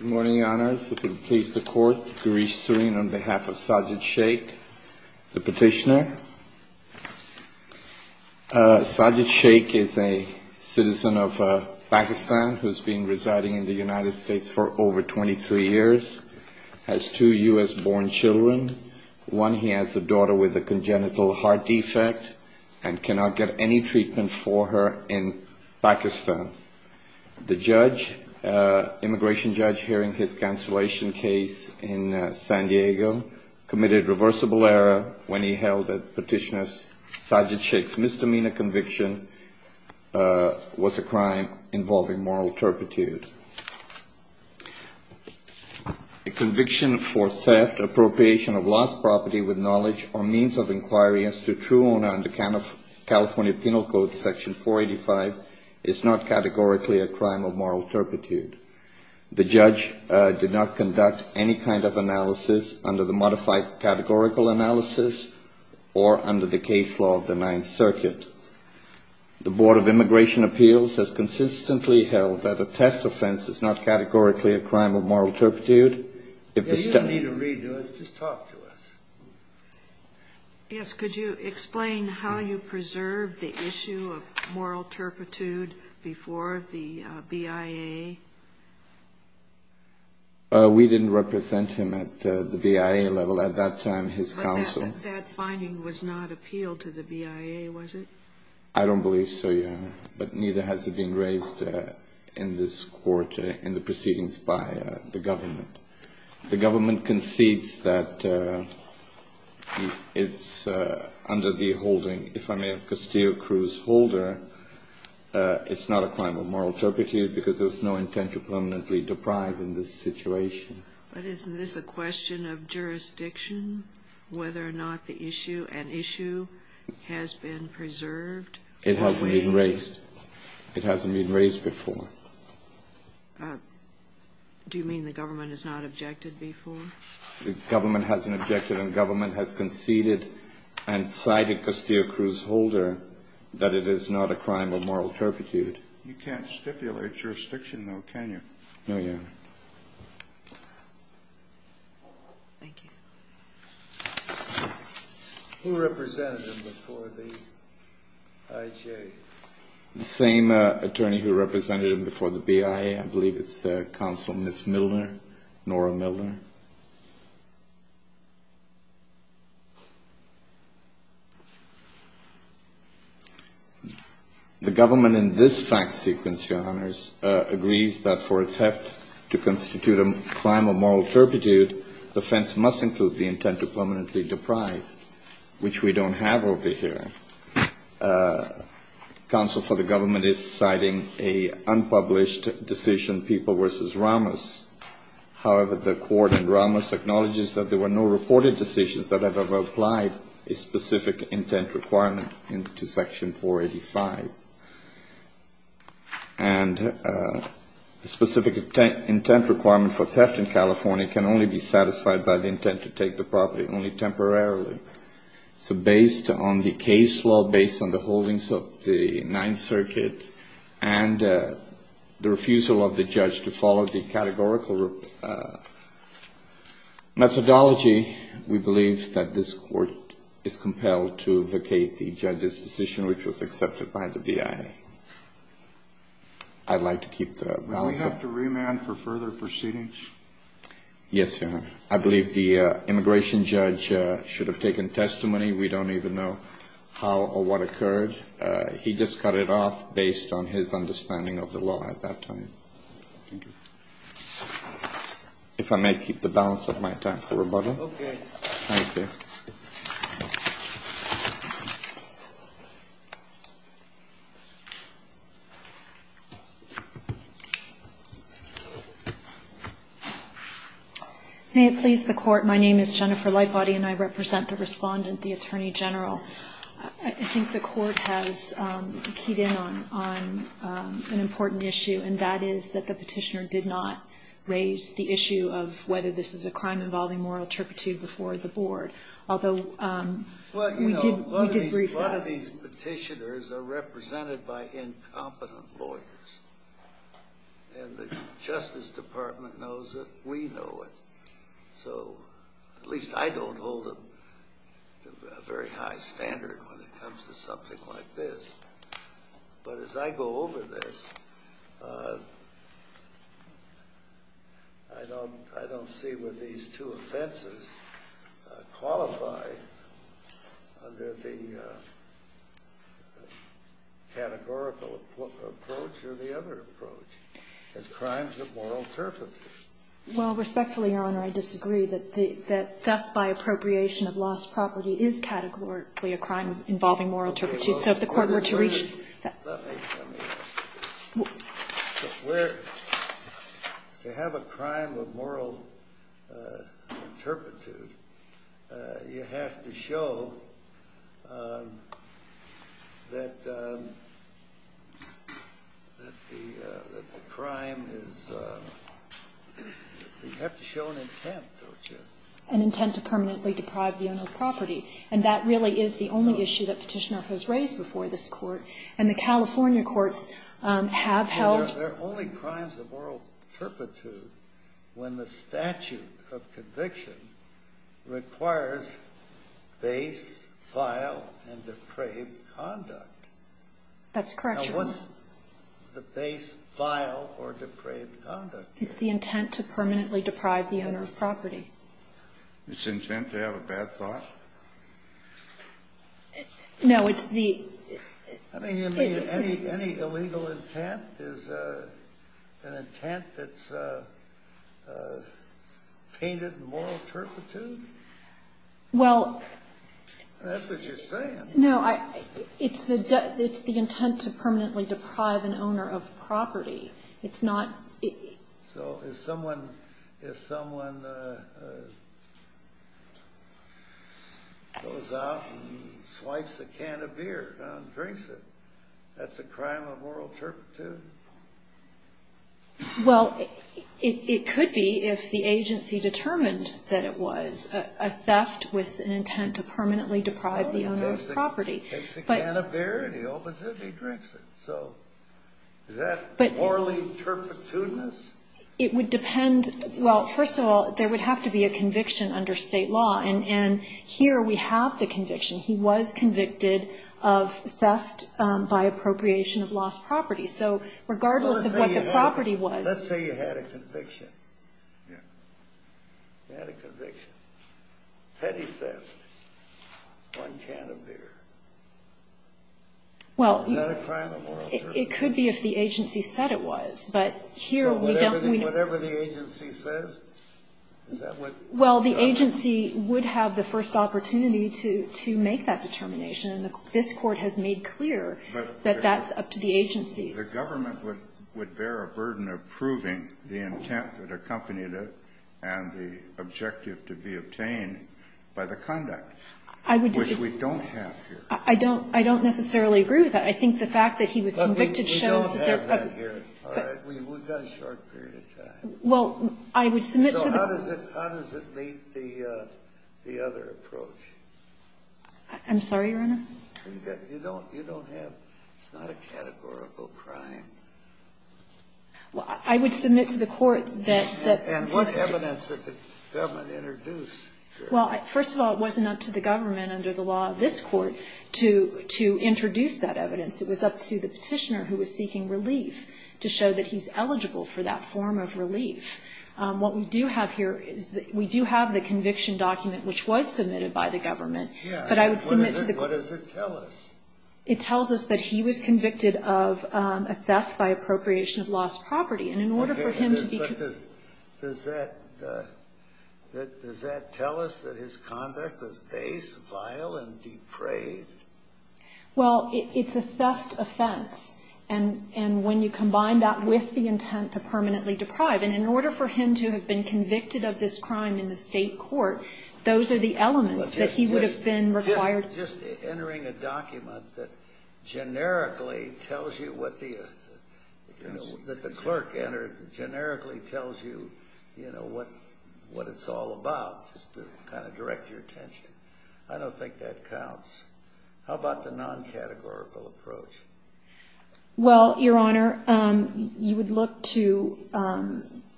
Good morning, Your Honors. If it pleases the Court, Gureesh Srin on behalf of Sajid Shaikh, the petitioner. Sajid Shaikh is a citizen of Pakistan who has been residing in the United States for over 23 years, has two U.S.-born children. One, he has a daughter with a congenital heart defect and cannot get any treatment for her in Pakistan. The judge, immigration judge, hearing his cancellation case in San Diego, committed reversible error when he held that petitioner, Sajid Shaikh's misdemeanor conviction was a crime involving moral turpitude. A conviction for theft, appropriation of lost property with knowledge or means of inquiry as to true owner under California Penal Code, Section 485, is not categorically a crime of moral turpitude. The judge did not conduct any kind of analysis under the modified categorical analysis or under the case law of the Ninth Circuit. The Board of Immigration Appeals has consistently held that a theft offense is not categorically a crime of moral turpitude. If you don't need to read to us, just talk to us. Yes, could you explain how you preserved the issue of moral turpitude before the BIA? We didn't represent him at the BIA level at that time, his counsel. But that finding was not appealed to the BIA, was it? I don't believe so, Your Honor. But neither has it been raised in this Court in the proceedings by the government. The government concedes that it's under the holding, if I may have Castillo-Cruz holder, it's not a crime of moral turpitude because there's no intent to permanently deprive in this situation. But isn't this a question of jurisdiction, whether or not the issue, an issue has been preserved? It hasn't been raised. It hasn't been raised before. Do you mean the government has not objected before? The government hasn't objected and the government has conceded and cited Castillo-Cruz holder that it is not a crime of moral turpitude. You can't stipulate jurisdiction, though, can you? No, Your Honor. Thank you. Who represented him before the IJA? The same attorney who represented him before the BIA. I believe it's the counsel, Ms. Milner, Nora Milner. The government in this fact sequence, Your Honors, agrees that for a theft to constitute a crime of moral turpitude, the offense must include the intent to permanently deprive, which we don't have over here. Counsel for the government is citing an unpublished decision, People v. Ramos. However, the court in Ramos acknowledges that there were no reported decisions that have applied a specific intent requirement into Section 485. And the specific intent requirement for theft in California can only be satisfied by the intent to take the property only temporarily. So based on the case law, based on the holdings of the Ninth Circuit, and the refusal of the judge to follow the categorical methodology, we believe that this court is compelled to vacate the judge's decision, which was accepted by the BIA. I'd like to keep the balance. Would we have to remand for further proceedings? Yes, Your Honor. I believe the immigration judge should have taken testimony. We don't even know how or what occurred. He just cut it off based on his understanding of the law at that time. Thank you. If I may keep the balance of my time for rebuttal. Okay. Thank you. May it please the Court, my name is Jennifer Lightbody, and I represent the respondent, the Attorney General. I think the Court has keyed in on an important issue, and that is that the Petitioner did not raise the issue of whether this is a crime involving moral turpitude before the Board, although we did brief that. Well, you know, a lot of these Petitioners are represented by incompetent lawyers. And the Justice Department knows it. We know it. So at least I don't hold a very high standard when it comes to something like this. But as I go over this, I don't see where these two offenses qualify under the categorical approach or the other approach as crimes of moral turpitude. Well, respectfully, Your Honor, I disagree that theft by appropriation of lost property is categorically a crime involving moral turpitude. So if the Court were to reach... To have a crime of moral turpitude, you have to show that the crime is a crime involving moral turpitude. You have to show an intent, don't you? An intent to permanently deprive the owner of property. And that really is the only issue that Petitioner has raised before this Court. And the California courts have held... There are only crimes of moral turpitude when the statute of conviction requires base, vile, and depraved conduct. That's correct, Your Honor. Now, what's the base, vile, or depraved conduct? It's the intent to permanently deprive the owner of property. It's intent to have a bad thought? No, it's the... I mean, you mean any illegal intent is an intent that's painted moral turpitude? Well... That's what you're saying. No, it's the intent to permanently deprive an owner of property. It's not... So if someone goes out and swipes a can of beer and drinks it, that's a crime of moral turpitude? Well, it could be if the agency determined that it was a theft with an intent to permanently deprive the owner of property. Takes a can of beer, and the opposite, he drinks it. So is that morally turpitudinous? It would depend... Well, first of all, there would have to be a conviction under state law. And here we have the conviction. He was convicted of theft by appropriation of lost property. So regardless of what the property was... Let's say you had a conviction. You had a conviction. Petty theft on a can of beer. Is that a crime of moral turpitude? Well, it could be if the agency said it was. But here we don't... But whatever the agency says, is that what... Well, the agency would have the first opportunity to make that determination. The government would bear a burden of proving the intent that accompanied it and the objective to be obtained by the conduct. I would... Which we don't have here. I don't necessarily agree with that. I think the fact that he was convicted shows... We don't have that here. All right. We've got a short period of time. Well, I would submit to the... So how does it meet the other approach? I'm sorry, Your Honor? You don't have... It's not a categorical crime. I would submit to the court that... And what evidence did the government introduce? Well, first of all, it wasn't up to the government under the law of this court to introduce that evidence. It was up to the Petitioner, who was seeking relief, to show that he's eligible for that form of relief. What we do have here is that we do have the conviction document, which was submitted by the government. But I would submit to the court... What does it tell us? It tells us that he was convicted of a theft by appropriation of lost property. And in order for him to be... But does that tell us that his conduct was base, vile, and depraved? Well, it's a theft offense. And when you combine that with the intent to permanently deprive, and in order for him to have been convicted of this crime in the state court, those are the elements that he would have been required... Just entering a document that generically tells you what the... that the clerk entered generically tells you, you know, what it's all about, just to kind of direct your attention. I don't think that counts. How about the non-categorical approach? Well, Your Honor, you would look to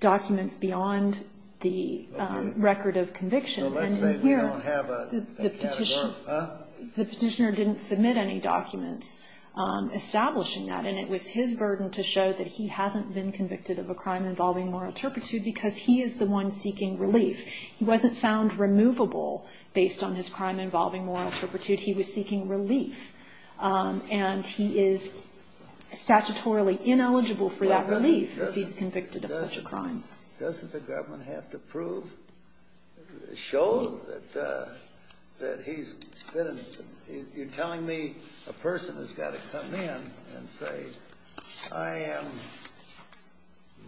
documents beyond the record of conviction. So let's say we don't have a category, huh? The petitioner didn't submit any documents establishing that, and it was his burden to show that he hasn't been convicted of a crime involving moral turpitude because he is the one seeking relief. He wasn't found removable based on his crime involving moral turpitude. He was seeking relief. And he is statutorily ineligible for that relief if he's convicted of such a crime. Doesn't the government have to prove, show that he's been... You're telling me a person has got to come in and say, I am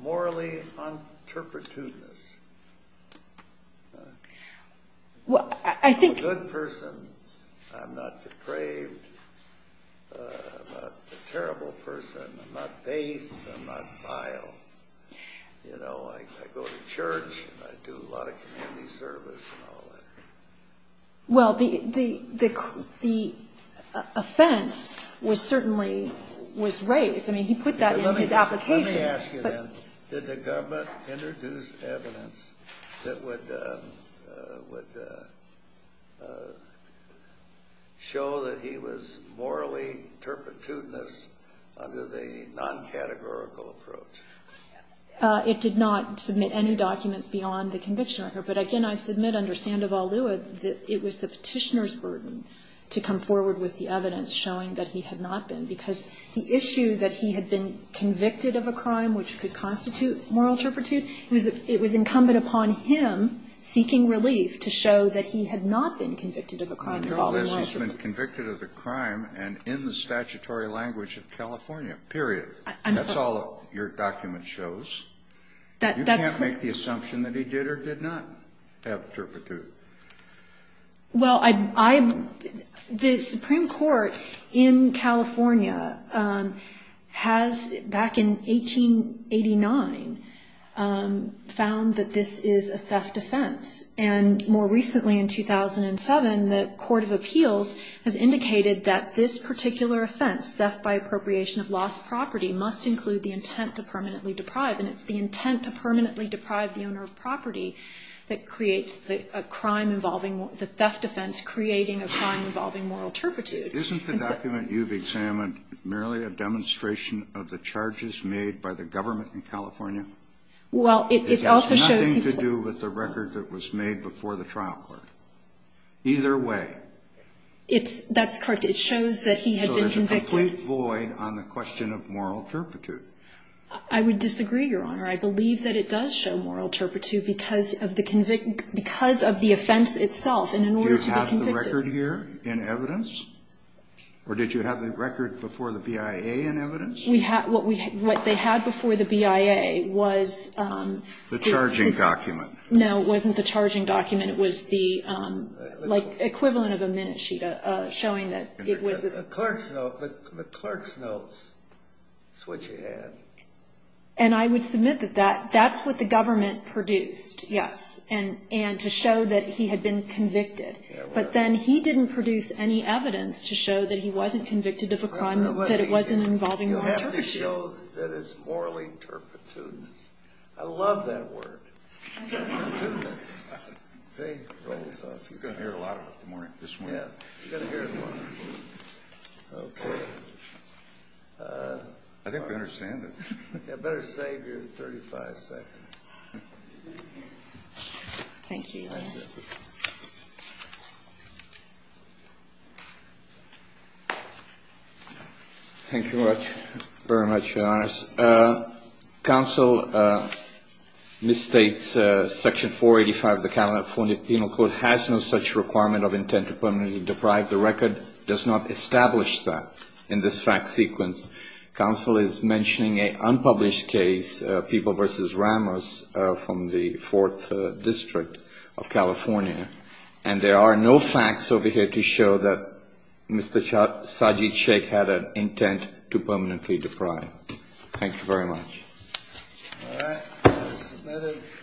morally un-turpitudinous. Well, I think... I'm a terrible person. I'm not base. I'm not vile. You know, I go to church. I do a lot of community service and all that. Well, the offense was certainly, was raised. I mean, he put that in his application. Let me ask you then, did the government introduce evidence that would show that he was morally turpitudinous under the non-categorical approach? It did not submit any documents beyond the conviction record. But, again, I submit under Sandoval-Lewis that it was the petitioner's burden to come forward with the evidence showing that he had not been because the issue that he had been convicted of a crime which could constitute moral turpitude, it was incumbent upon him, seeking relief, to show that he had not been convicted of a crime involving moral turpitude. He's been convicted of a crime and in the statutory language of California, period. I'm sorry. That's all your document shows. You can't make the assumption that he did or did not have turpitude. Well, the Supreme Court in California has, back in 1889, found that this is a theft offense. And more recently, in 2007, the Court of Appeals has indicated that this particular offense, theft by appropriation of lost property, must include the intent to permanently deprive. the owner of property that creates a crime involving the theft offense, creating a crime involving moral turpitude. Isn't the document you've examined merely a demonstration of the charges made by the government in California? Well, it also shows he was. It has nothing to do with the record that was made before the trial court. Either way. That's correct. It shows that he had been convicted. So there's a complete void on the question of moral turpitude. I would disagree, Your Honor. I believe that it does show moral turpitude because of the offense itself. And in order to be convicted. Do you have the record here in evidence? Or did you have the record before the BIA in evidence? What they had before the BIA was. The charging document. No, it wasn't the charging document. It was the, like, equivalent of a minute sheet showing that it was. The clerk's notes. That's what you had. And I would submit that that's what the government produced, yes. And to show that he had been convicted. But then he didn't produce any evidence to show that he wasn't convicted of a crime, that it wasn't involving moral turpitude. You have to show that it's morally turpitudinous. I love that word. Turpitudinous. See? You're going to hear it a lot this morning. You're going to hear it a lot. Okay. I think we understand it. Better save your 35 seconds. Thank you, Your Honor. Thank you. Thank you very much, Your Honors. Counsel misstates Section 485 of the California Penal Code has no such requirement of intent to permanently deprive the record. It does not establish that in this fact sequence. Counsel is mentioning an unpublished case, People v. Ramos, from the 4th District of California. And there are no facts over here to show that Mr. Sajid Shaikh had an intent to permanently deprive. Thank you very much. All right. Submitted.